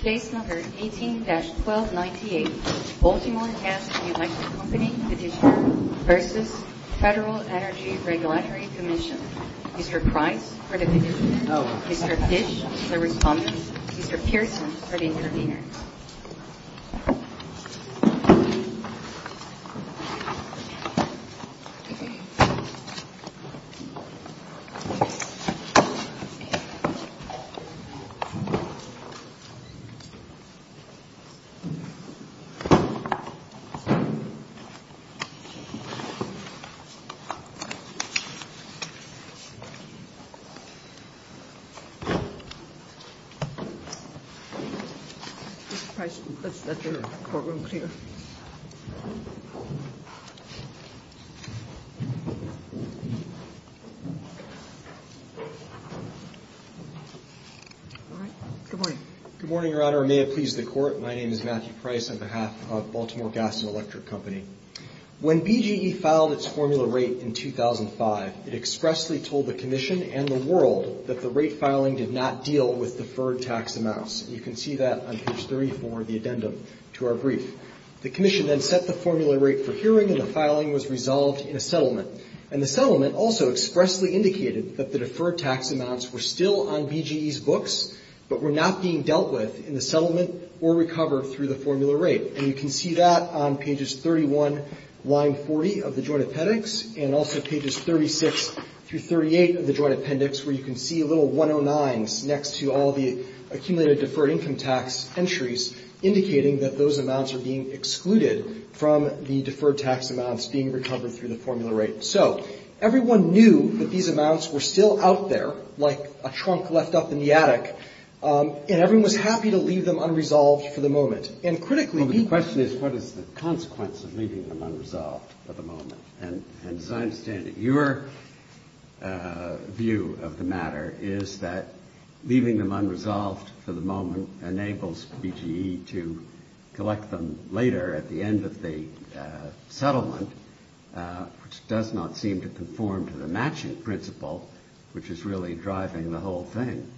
Case No. 18-1298 Baltimore Gas and Electric Company Petitioner v. Federal Energy Regulatory Commission Mr. Price for the petitioner, Mr. Fish for the respondent, Mr. Pearson for the intervener Mr. Price, let's let the courtroom clear. Good morning, Your Honor. May it please the Court, my name is Matthew Price on behalf of Baltimore Gas and Electric Company. When BGE filed its formula rate in 2005, it expressly told the Commission and the world that the rate filing did not deal with deferred tax amounts. You can see that on page 34 of the addendum to our brief. The Commission then set the formula rate for hearing and the filing was resolved in a settlement. And the settlement also expressly indicated that the deferred tax amounts were still on BGE's books but were not being dealt with in the settlement or recovered through the formula rate. And you can see that on pages 31, line 40 of the Joint Appendix and also pages 36-38 of the tax entries, indicating that those amounts are being excluded from the deferred tax amounts being recovered through the formula rate. So everyone knew that these amounts were still out there, like a trunk left up in the attic, and everyone was happy to leave them unresolved for the moment. And critically, the question is what is the consequence of leaving them unresolved for the moment? And as I understand it, your view of the matter is that leaving them unresolved for the moment enables BGE to collect them later at the end of the settlement, which does not seem to conform to the matching principle, which is really driving the whole thing.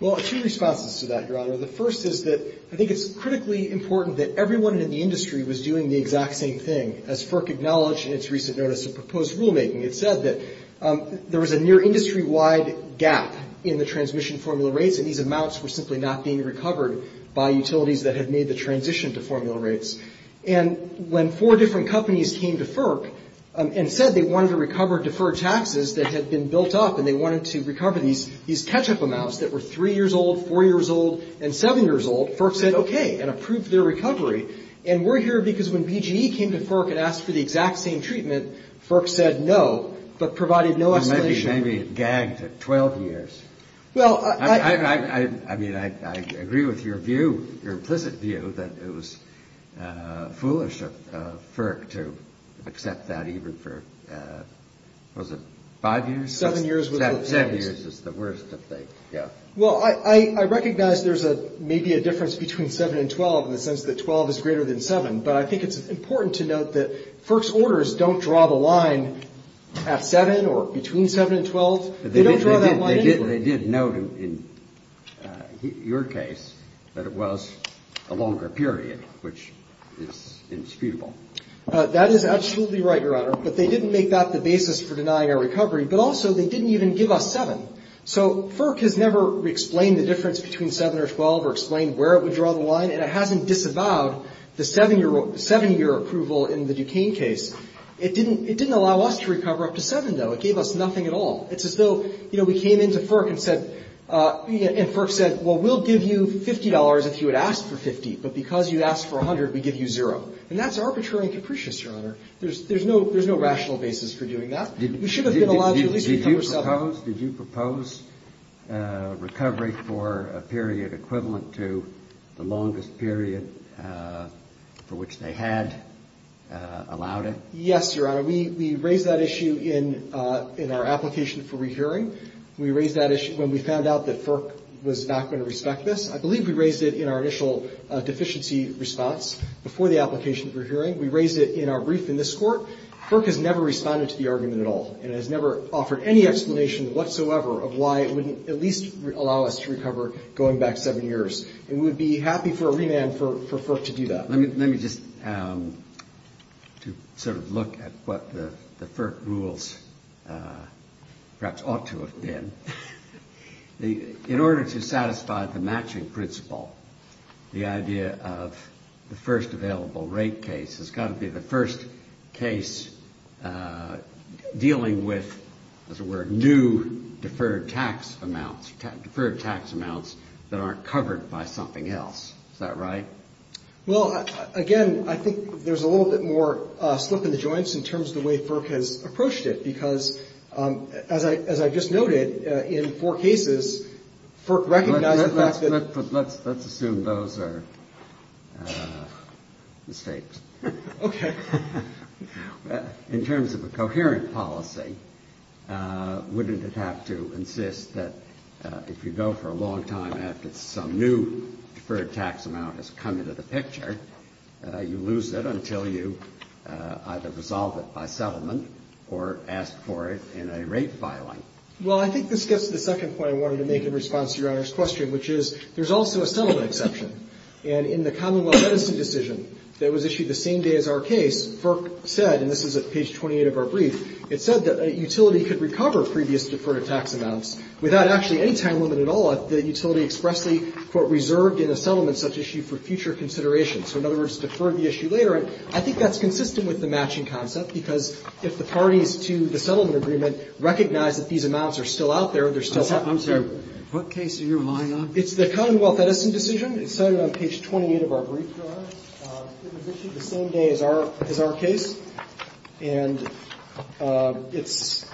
Well, two responses to that, Your Honor. The first is that I think it's critically important that everyone in the industry was doing the exact same thing. As FERC acknowledged in its recent notice of proposed rulemaking, it said that there was a near industry-wide gap in the transmission formula rates, and these amounts were simply not being recovered by utilities that had made the transition to formula rates. And when four different companies came to FERC and said they wanted to recover deferred taxes that had been built up and they wanted to recover these catch-up amounts that were three years old, four years old, and seven years old, FERC said okay and approved their recovery. And we're here because when BGE came to FERC and asked for the exact same treatment, FERC said no, but provided no escalation. Well, maybe it gagged at 12 years. I mean, I agree with your view, your implicit view that it was foolish of FERC to accept that even for, what was it, five years? Seven years was the worst. Seven years is the worst, I think, yeah. Well, I recognize there's maybe a difference between seven and 12 in the sense that 12 is greater than seven, but I think it's important to note that FERC's orders don't draw the line between seven and 12. They don't draw that line anywhere. They did note in your case that it was a longer period, which is indisputable. That is absolutely right, Your Honor, but they didn't make that the basis for denying our recovery, but also they didn't even give us seven. So FERC has never explained the difference between seven or 12 or explained where it would draw the line, and it hasn't disavowed the seven-year approval in the Duquesne case. It didn't allow us to recover up to seven, though. It gave us nothing at all. It's as though, you know, we came into FERC and said, and FERC said, well, we'll give you $50 if you had asked for $50, but because you asked for $100, we give you zero. And that's arbitrary and capricious, Your Honor. There's no rational basis for doing that. We should have been allowed to at least recover seven. Did you propose recovery for a period equivalent to the longest period for which they had allowed it? Yes, Your Honor. We raised that issue in our application for rehearing. We raised that issue when we found out that FERC was not going to respect this. I believe we raised it in our initial deficiency response before the application for hearing. We raised it in our brief in this Court. FERC has never responded to the argument at all and has never offered any explanation whatsoever of why it wouldn't at least allow us to recover going back seven years. And we would be happy for a remand for FERC to do that. Let me just sort of look at what the FERC rules perhaps ought to have been. In order to satisfy the matching principle, the idea of the first available rate case has got to be the first case dealing with, as it were, new deferred tax amounts that aren't covered by something else. Is that right? Well, again, I think there's a little bit more slip in the joints in terms of the way FERC has approached it because, as I've just noted, in four cases, FERC recognized the fact that Let's assume those are mistakes. Okay. In terms of a coherent policy, wouldn't it have to insist that if you go for a long time after some new deferred tax amount has come into the picture, you lose it until you either resolve it by settlement or ask for it in a rate filing? Well, I think this gets to the second point I wanted to make in response to Your Honor's question, which is there's also a settlement exception. And in the Commonwealth medicine decision that was issued the same day as our case, FERC said, and this is at page 28 of our brief, it said that a utility could recover previous deferred tax amounts without actually any time limit at all if the utility expressly, quote, reserved in a settlement such issue for future consideration. So, in other words, defer the issue later. And I think that's consistent with the matching concept, because if the parties to the settlement agreement recognize that these amounts are still out there, they're still having to I'm sorry. What case are you relying on? It's the Commonwealth medicine decision. It's cited on page 28 of our brief, Your Honor. It was issued the same day as our case. And it's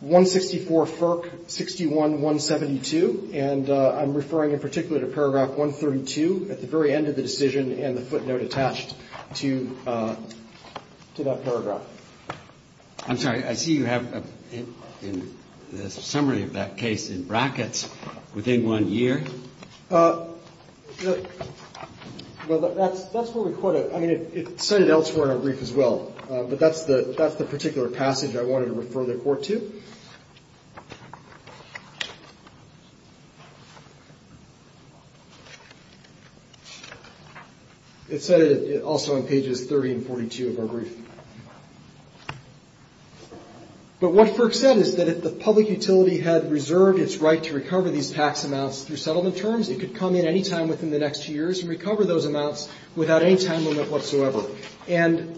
164 FERC. 61-172. And I'm referring in particular to paragraph 132 at the very end of the decision and the footnote attached to that paragraph. I'm sorry. I see you have a summary of that case in brackets within one year. Well, that's where we quote it. I mean, it's cited elsewhere in our brief as well. But that's the that's the particular passage I wanted to refer the court to. It's also on pages 30 and 42 of our brief. But what FERC said is that if the public utility had reserved its right to recover these tax amounts through settlement terms, it could come in any time within the next two years and recover those amounts without any time limit whatsoever. And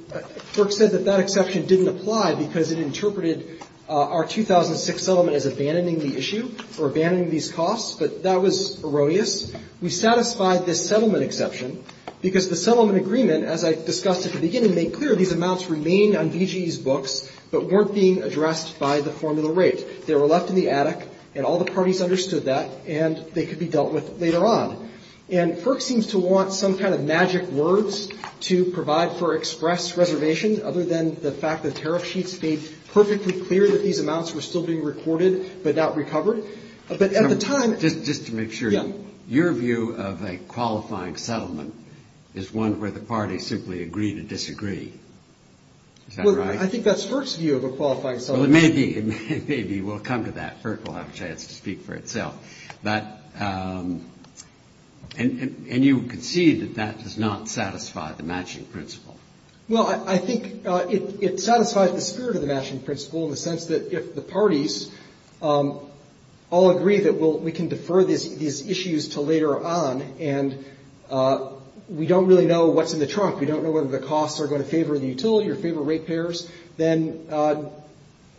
FERC said that that exception didn't apply because it interpreted our 2006 settlement as abandoning the issue or abandoning these costs. But that was erroneous. We satisfied this settlement exception because the settlement agreement, as I discussed at the beginning, made clear these amounts remained on BGE's books but weren't being addressed by the formula rate. They were left in the attic. And all the parties understood that. And they could be dealt with later on. And FERC seems to want some kind of magic words to provide for express reservation other than the fact that tariff sheets made perfectly clear that these amounts were still being recorded but not recovered. But at the time Just to make sure. Your view of a qualifying settlement is one where the parties simply agree to disagree. I think that's FERC's view of a qualifying settlement. Well, it may be. It may be. We'll come to that. FERC will have a chance to speak for itself. And you concede that that does not satisfy the matching principle. Well, I think it satisfies the spirit of the matching principle in the sense that if the parties all agree that we can defer these issues to later on and we don't really know what's in the trunk. We don't know whether the costs are going to favor the utility or favor rate payers, then no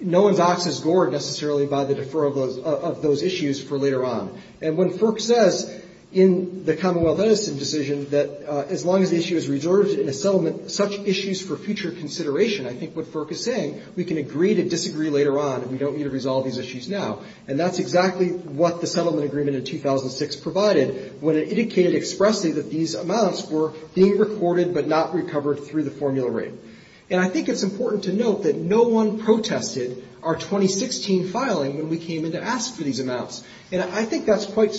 one's ox is gored necessarily by the defer of those issues for later on. And when FERC says in the Commonwealth Edison decision that as long as the issue is reserved in a settlement, such issues for future consideration, I think what FERC is saying, we can agree to disagree later on and we don't need to resolve these issues now. And that's exactly what the settlement agreement in 2006 provided when it indicated expressly that these amounts were being recorded but not recovered through the formula rate. And I think it's important to note that no one protested our 2016 filing when we came in to ask for these amounts. And I think that's quite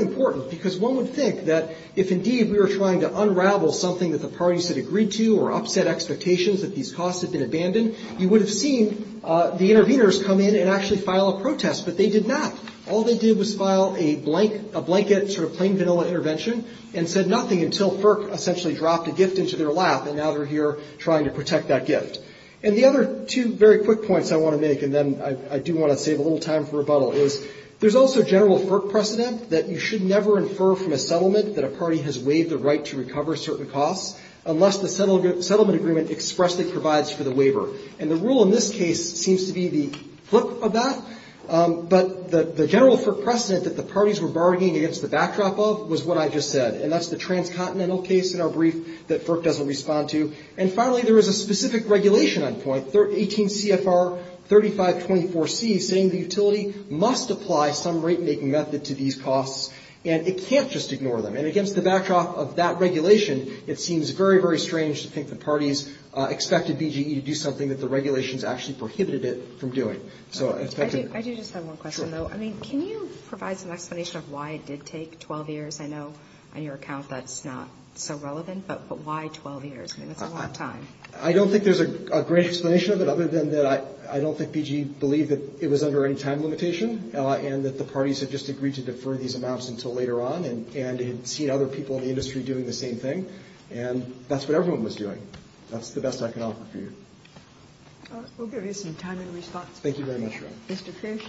important, because one would think that if indeed we were trying to unravel something that the parties had agreed to or upset expectations that these costs had been abandoned, you would have seen the interveners come in and actually file a protest. But they did not. All they did was file a blank, a blanket sort of plain vanilla intervention and said nothing until FERC essentially dropped a gift into their lap, and now they're here trying to protect that gift. And the other two very quick points I want to make, and then I do want to save a little time for rebuttal, is there's also general FERC precedent that you should never infer from a settlement that a party has waived the right to recover certain costs unless the settlement agreement expressly provides for the waiver. And the rule in this case seems to be the flip of that. But the general FERC precedent that the parties were bargaining against the backdrop of was what I just said. And that's the transcontinental case in our brief that FERC doesn't respond to. And finally, there is a specific regulation on point, 18 CFR 3524C, saying the utility must apply some rate-making method to these costs, and it can't just ignore them. And against the backdrop of that regulation, it seems very, very strange to think the parties expected BGE to do that, but the regulations actually prohibited it from doing. So... I do just have one question, though. I mean, can you provide some explanation of why it did take 12 years? I know on your account that's not so relevant, but why 12 years? I mean, that's a long time. I don't think there's a great explanation of it, other than that I don't think BGE believed that it was under any time limitation, and that the parties had just agreed to defer these amounts until later on, and had seen other people in the industry doing the same thing. And that's what everyone was doing. That's the best I can offer for you. All right. We'll give you some time in response. Thank you very much, Your Honor. Mr. Fish?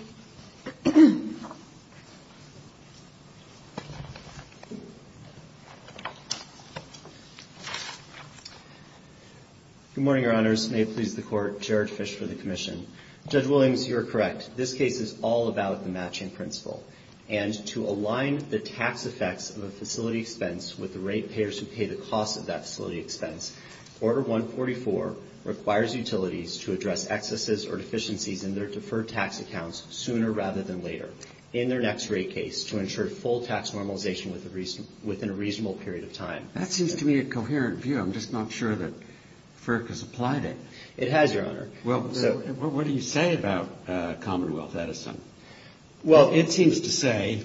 Good morning, Your Honors. May it please the Court. Jared Fish for the Commission. Judge Williams, you are correct. This case is all about the matching principle. And to align the tax effects of a facility expense with the ratepayers who pay the cost of that facility expense, Order 144 requires utilities to address excesses or deficiencies in their deferred tax accounts sooner rather than later in their next rate case to ensure full tax normalization within a reasonable period of time. That seems to me a coherent view. I'm just not sure that FERC has applied it. It has, Your Honor. Well, what do you say about Commonwealth Edison? It seems to say,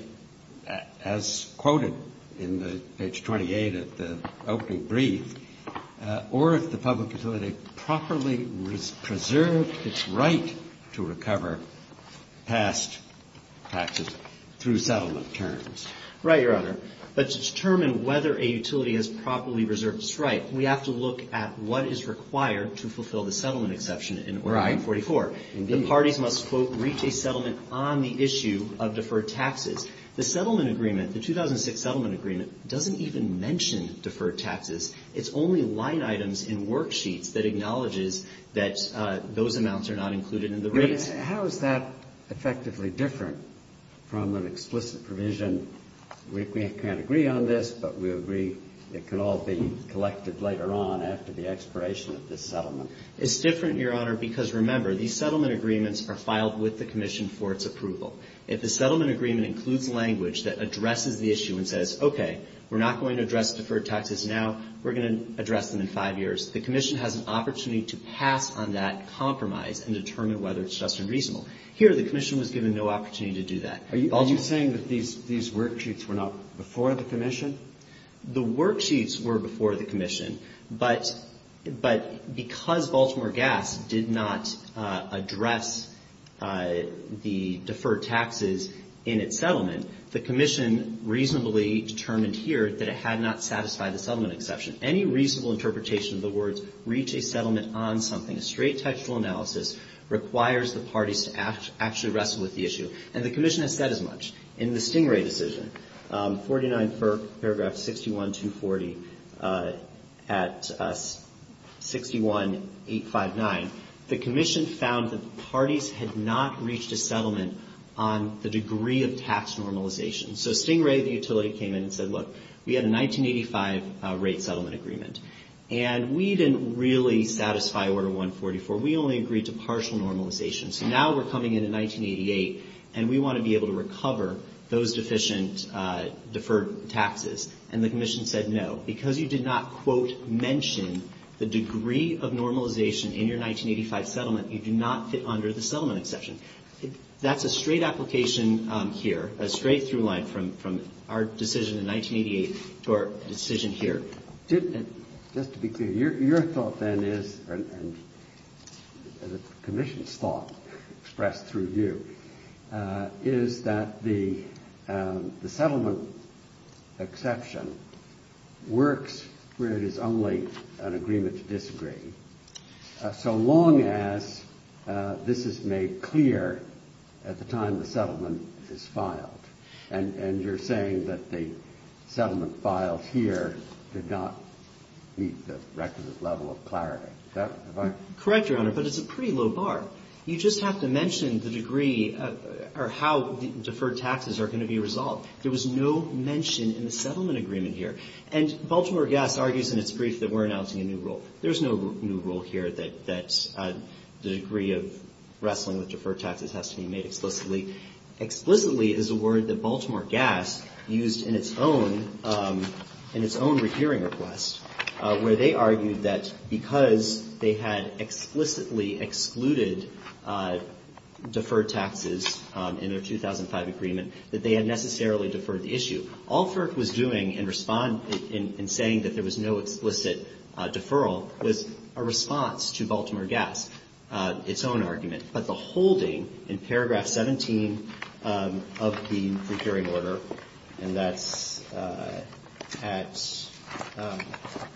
as quoted in page 28 of the opening brief, or if the public utility properly preserved its right to recover past taxes through settlement terms. Right, Your Honor. But to determine whether a utility has properly preserved its right, we have to look at what is required to fulfill the settlement exception in Order 144. Indeed. The parties must, quote, reach a settlement on the issue of deferred taxes. The settlement agreement, the 2006 settlement agreement, doesn't even mention deferred taxes. It's only line items in worksheets that acknowledges that those amounts are not included in the rates. But how is that effectively different from an explicit provision, we can't agree on this, but we agree it could all be collected later on after the expiration of this settlement? It's different, Your Honor, because, remember, these settlement agreements are filed with the Commission for its approval. If the settlement agreement includes language that addresses the issue and says, okay, we're not going to address deferred taxes now, we're going to address them in five years, the Commission has an opportunity to pass on that compromise and determine whether it's just and reasonable. Here, the Commission was given no opportunity to do that. Are you saying that these worksheets were not before the Commission? The worksheets were before the Commission, but because Baltimore Gas did not address the deferred taxes in its settlement, the Commission reasonably determined here that it had not satisfied the settlement exception. Any reasonable interpretation of the words, reach a settlement on something, a straight textual analysis, requires the parties to actually wrestle with the issue. And the Commission has said as much. In the Stingray decision, 49 for paragraph 61-240 at 61859, the Commission found that the parties had not reached a settlement on the degree of tax normalization. So Stingray, the utility, came in and said, look, we had a 1985 rate settlement agreement. And we didn't really satisfy Order 144. We only agreed to partial normalization. So now we're coming into 1988, and we want to be able to recover those deficient deferred taxes. And the Commission said, no, because you did not, quote, mention the degree of normalization in your 1985 settlement, you do not fit under the straight-through line from our decision in 1988 to our decision here. Just to be clear, your thought then is, and the Commission's thought expressed through you, is that the settlement exception works where it is only an agreement to disagree, so long as this is made clear at the time the settlement is filed. And you're saying that the settlement filed here did not meet the requisite level of clarity. Correct, Your Honor, but it's a pretty low bar. You just have to mention the degree or how deferred taxes are going to be resolved. There was no mention in the settlement agreement here. And Baltimore Gas argues in its brief that we're announcing a new rule. There's no new rule here that the degree of wrestling with deferred taxes has to be made explicitly. Explicitly is a word that Baltimore Gas used in its own, in its own hearing request, where they argued that because they had explicitly excluded deferred taxes in their 2005 agreement, that they had necessarily deferred the issue. All FERC was doing in saying that there was no explicit deferral was a response to Baltimore Gas, its own argument. But the holding in paragraph 17 of the procuring order, and that's at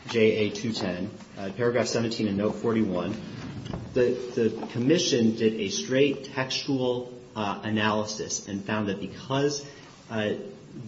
JA210, paragraph 17 in note 41, the Commission did a straight textual analysis and found that because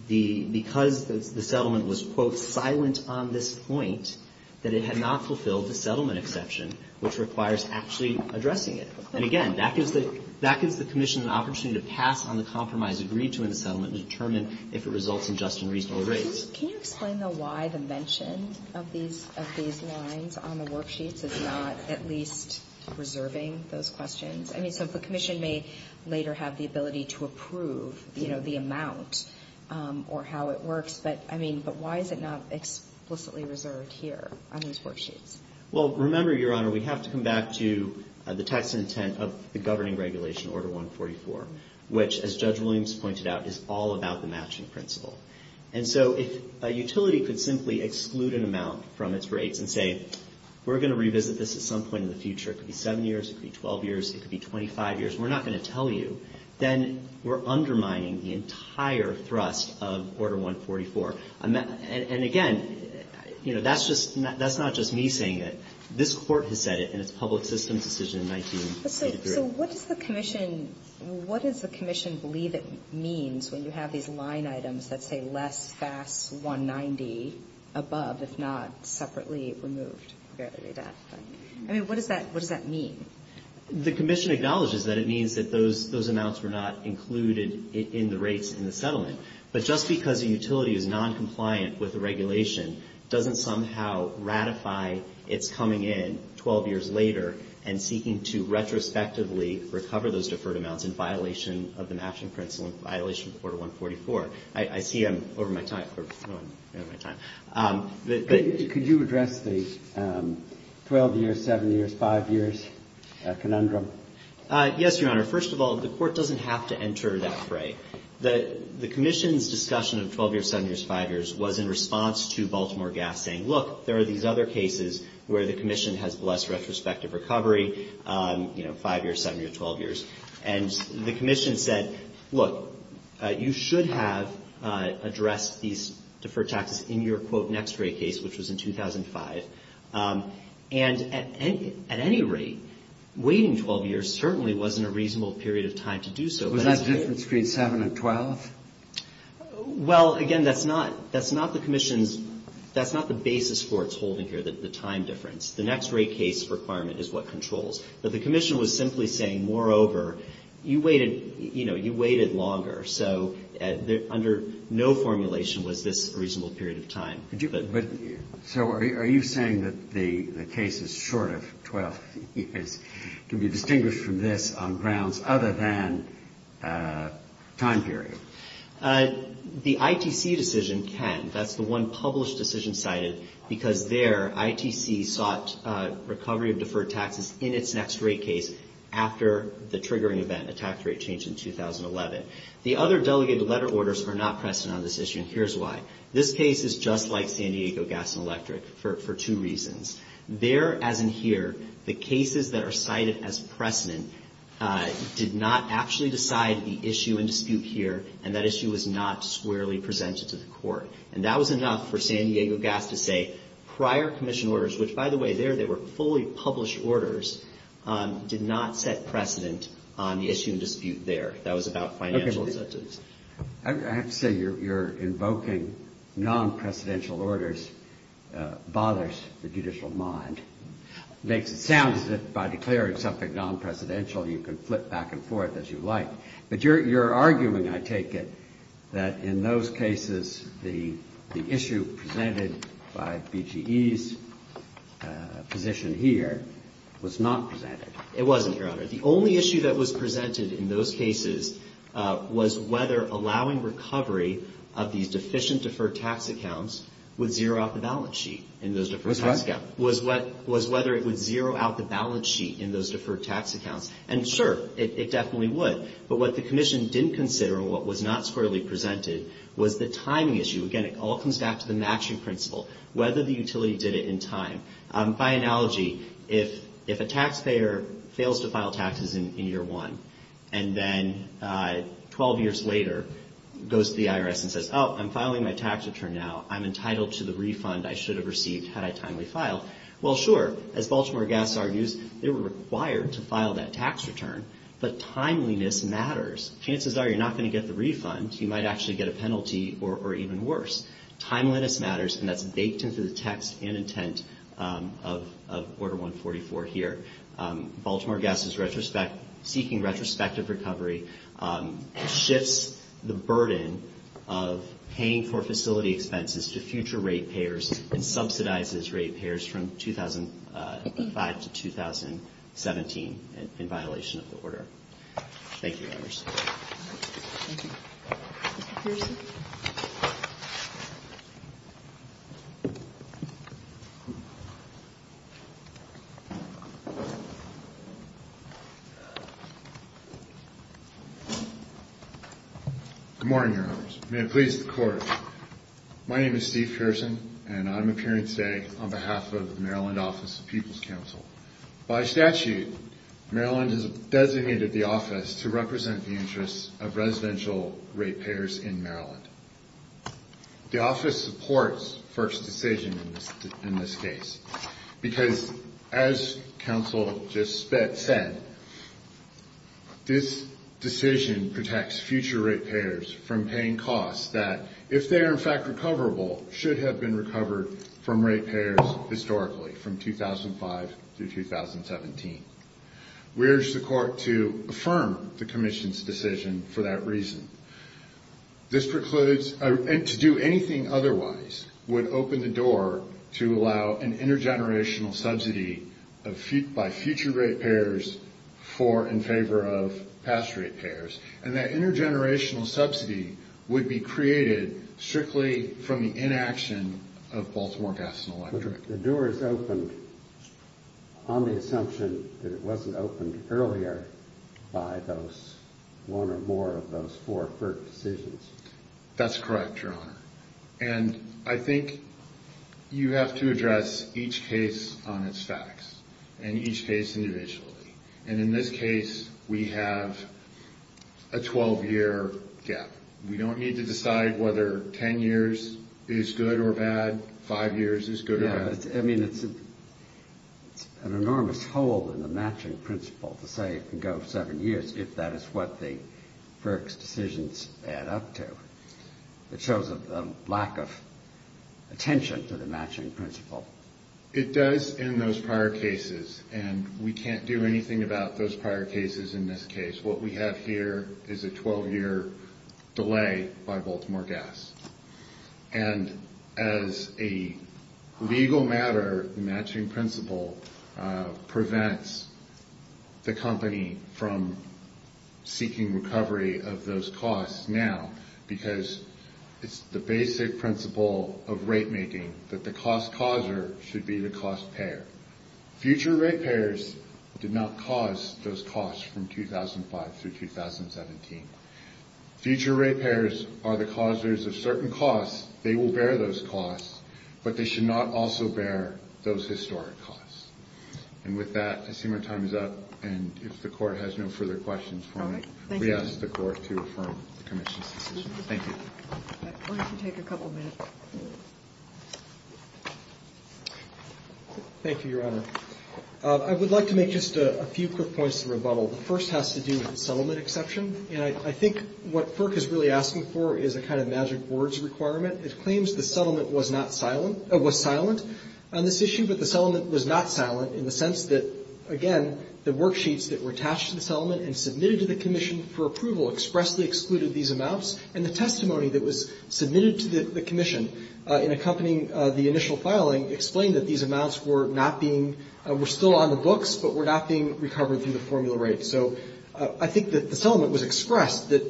the settlement was, quote, silent on this point, that it had not fulfilled the settlement exception, which requires actually addressing it. And again, that gives the, that gives the Commission an opportunity to pass on the compromise agreed to in the settlement and determine if it results in just and reasonable rates. Can you explain, though, why the mention of these, of these lines on the worksheets is not at least reserving those questions? I mean, so the Commission may later have the ability to approve, you know, the amount or how it works, but, I mean, but why is it not explicitly reserved here on these worksheets? Well, remember, Your Honor, we have to come back to the text and intent of the governing regulation, Order 144, which, as Judge Williams pointed out, is all about the matching principle. And so if a utility could simply exclude an amount from its rates and say, we're going to revisit this at some point in the future, it could be seven years, it could be 12 years, it could be 25 years, we're not going to tell you, then we're undermining the entire thrust of Order 144. And again, you know, it's a matter of, it's a matter of, you know, that's just, that's not just me saying it. This Court has said it, and it's a public systems decision in 1983. So what does the Commission, what does the Commission believe it means when you have these line items that say less FAS 190 above, if not separately removed? I mean, what does that, what does that mean? The Commission acknowledges that it means that those, those amounts were not included in the rates in the settlement. But just because a utility is noncompliant with the regulation, doesn't somehow ratify its coming in 12 years later and seeking to retrospectively recover those deferred amounts in violation of the matching principle in violation of Order 144. I see I'm over my time. Could you address the 12 years, 7 years, 5 years conundrum? Yes, Your Honor. First of all, the Court doesn't have to enter that fray. The Commission's discussion of 12 years, 7 years, 5 years was in response to Baltimore Gas saying, look, there are these other cases where the Commission has blessed retrospective recovery, you know, 5 years, 7 years, 12 years. And the Commission said, look, you should have addressed these deferred taxes in your quote next fray case, which was in 2005. And at any rate, waiting 12 years certainly wasn't a reasonable period of time to do so. Was that difference between 7 and 12? Well, again, that's not, that's not the Commission's, that's not the basis for its holding here, the time difference. The next fray case requirement is what controls. But the Commission was simply saying, moreover, you waited, you know, you waited longer. So under no formulation was this a reasonable period of time. So are you saying that the case is short of 12 years to be distinguished from this on grounds other than time period? The ITC decision can. That's the one published decision cited because there ITC sought recovery of deferred taxes in its next fray case after the triggering event, a tax rate change in 2011. The other delegated letter orders are not precedent on this issue, and here's why. This case is just like San Diego Gas and Electric for two reasons. There, as in here, the cases that are cited as precedent did not actually decide the issue and dispute here, and that issue was not squarely presented to the court. And that was enough for San Diego Gas to say prior Commission orders, which by the way, there they were fully published orders, did not set precedent on the issue and dispute there. That was about financial incentives. I have to say you're invoking non-precedential orders bothers the judicial mind. Makes it sound as if by declaring something non-precedential, you can flip back and forth as you like. But you're arguing, I take it, that in those cases, the issue presented by BGE's position here was not presented. It wasn't, Your Honor. The only issue that was presented in those cases was whether allowing recovery of these deficient deferred tax accounts would zero out the balance sheet in those deferred tax accounts. Was what? Was whether it would zero out the balance sheet in those deferred tax accounts. And sure, it definitely would. But what the Commission didn't consider and what was not squarely presented was the timing issue. Again, it all comes back to the matching principle, whether the utility did it in time. By analogy, if a taxpayer fails to file taxes in year one, and then 12 years later goes to the IRS and says, oh, I'm filing my tax return now. I'm entitled to the refund I should have received had I timely filed. Well, sure, as Baltimore Gas argues, they were required to file that tax return. But timeliness matters. Chances are you're not going to get the refund. You might actually get a penalty or even worse. Timeliness matters, and that's baked into the text and intent of Order 144 here. Baltimore Gas is seeking retrospective recovery. It shifts the burden of paying for facility expenses to future rate payers and subsidizes rate payers from 2005 to 2017 in violation of the order. Thank you, members. Good morning, Your Honors. May it please the Court. My name is Steve Pearson, and I'm appearing today on behalf of the Maryland Office of People's Counsel. By statute, Maryland has designated the office to represent the interests of residential rate payers in Maryland. The office supports first decision in this case, because as counsel just said, it's a matter of the law. This decision protects future rate payers from paying costs that, if they are in fact recoverable, should have been recovered from rate payers historically, from 2005 to 2017. We urge the Court to affirm the commission's decision for that reason. To do anything otherwise would open the door to allow an intergenerational subsidy by future rate payers to pay for the facility. And that intergenerational subsidy would be created strictly from the inaction of Baltimore Gas and Electric. The door is open on the assumption that it wasn't opened earlier by one or more of those four first decisions. And I think you have to address each case on its facts, and each case individually. And in this case, we have a 12-year gap. We don't need to decide whether 10 years is good or bad, five years is good or bad. Yeah, I mean, it's an enormous hole in the matching principle to say it can go seven years, if that is what the first decisions add up to. It shows a lack of attention to the matching principle. It does in those prior cases, and we can't do anything about those prior cases in this case. What we have here is a 12-year delay by Baltimore Gas. And as a legal matter, the matching principle prevents the company from seeking recovery of those costs now, because it's the basic principle of rate-making that the cost-causer should be the cost-payer. Future ratepayers did not cause those costs from 2005 through 2017. Future ratepayers are the causers of certain costs. They will bear those costs, but they should not also bear those historic costs. And with that, I assume our time is up. And if the Court has no further questions for me, we ask the Court to affirm the Commission's decision. Thank you. Thank you, Your Honor. I would like to make just a few quick points to rebuttal. The first has to do with the settlement exception, and I think what FERC is really asking for is a kind of magic words requirement. It claims the settlement was not silent or was silent on this issue, but the settlement was not silent, in the sense that, again, the worksheets that were attached to the settlement and submitted to the Commission for approval expressly excluded these amounts, and the testimony that was submitted to the Commission in accompanying the initial filing explained that these amounts were not being — were still on the books, but were not being recovered through the formula rate. So I think that the settlement was expressed that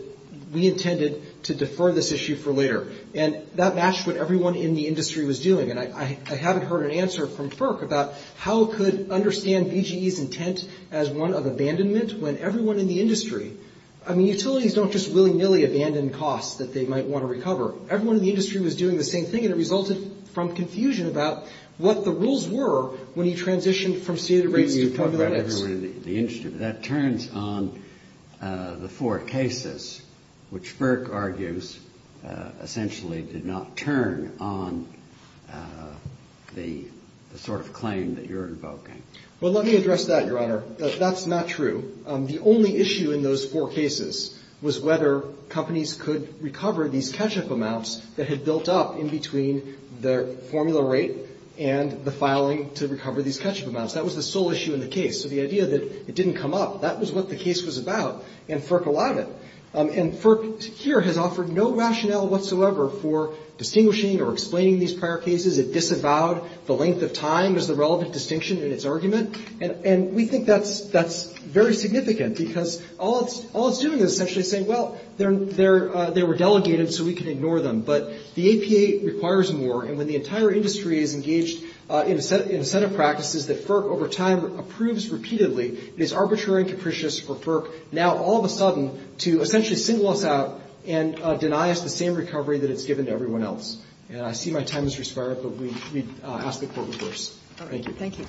we intended to defer this issue for later, and that matched what everyone in the industry was doing. And I haven't heard an answer from FERC about how it could understand BGE's intent as one of abandonment when everyone in the industry — I mean, utilities don't just willy-nilly abandon costs that they might want to recover. Everyone in the industry was doing the same thing, and it resulted from confusion about what the rules were when he transitioned from stated rates to formula rates. That turns on the four cases, which FERC argues essentially did not turn on the sort of claim that you're invoking. Well, let me address that, Your Honor. That's not true. The only issue in those four cases was whether companies could recover these catch-up amounts that had built up in between the formula rate and the filing to recover these catch-up amounts. That was the sole issue in the case. So the idea that it didn't come up, that was what the case was about, and FERC allowed it. And FERC here has offered no rationale whatsoever for distinguishing or explaining these prior cases. It disavowed the length of time as the relevant distinction in its argument. And we think that's very significant, because all it's doing is essentially saying, well, they were delegated, so we can ignore them. But the APA requires more. And when the entire industry is engaged in a set of practices that FERC over time approves repeatedly, it is arbitrary and capricious for FERC now all of a sudden to essentially single us out and deny us the same recovery that it's given to everyone else. And I see my time has expired, but we ask the Court reverse. Thank you. Thank you.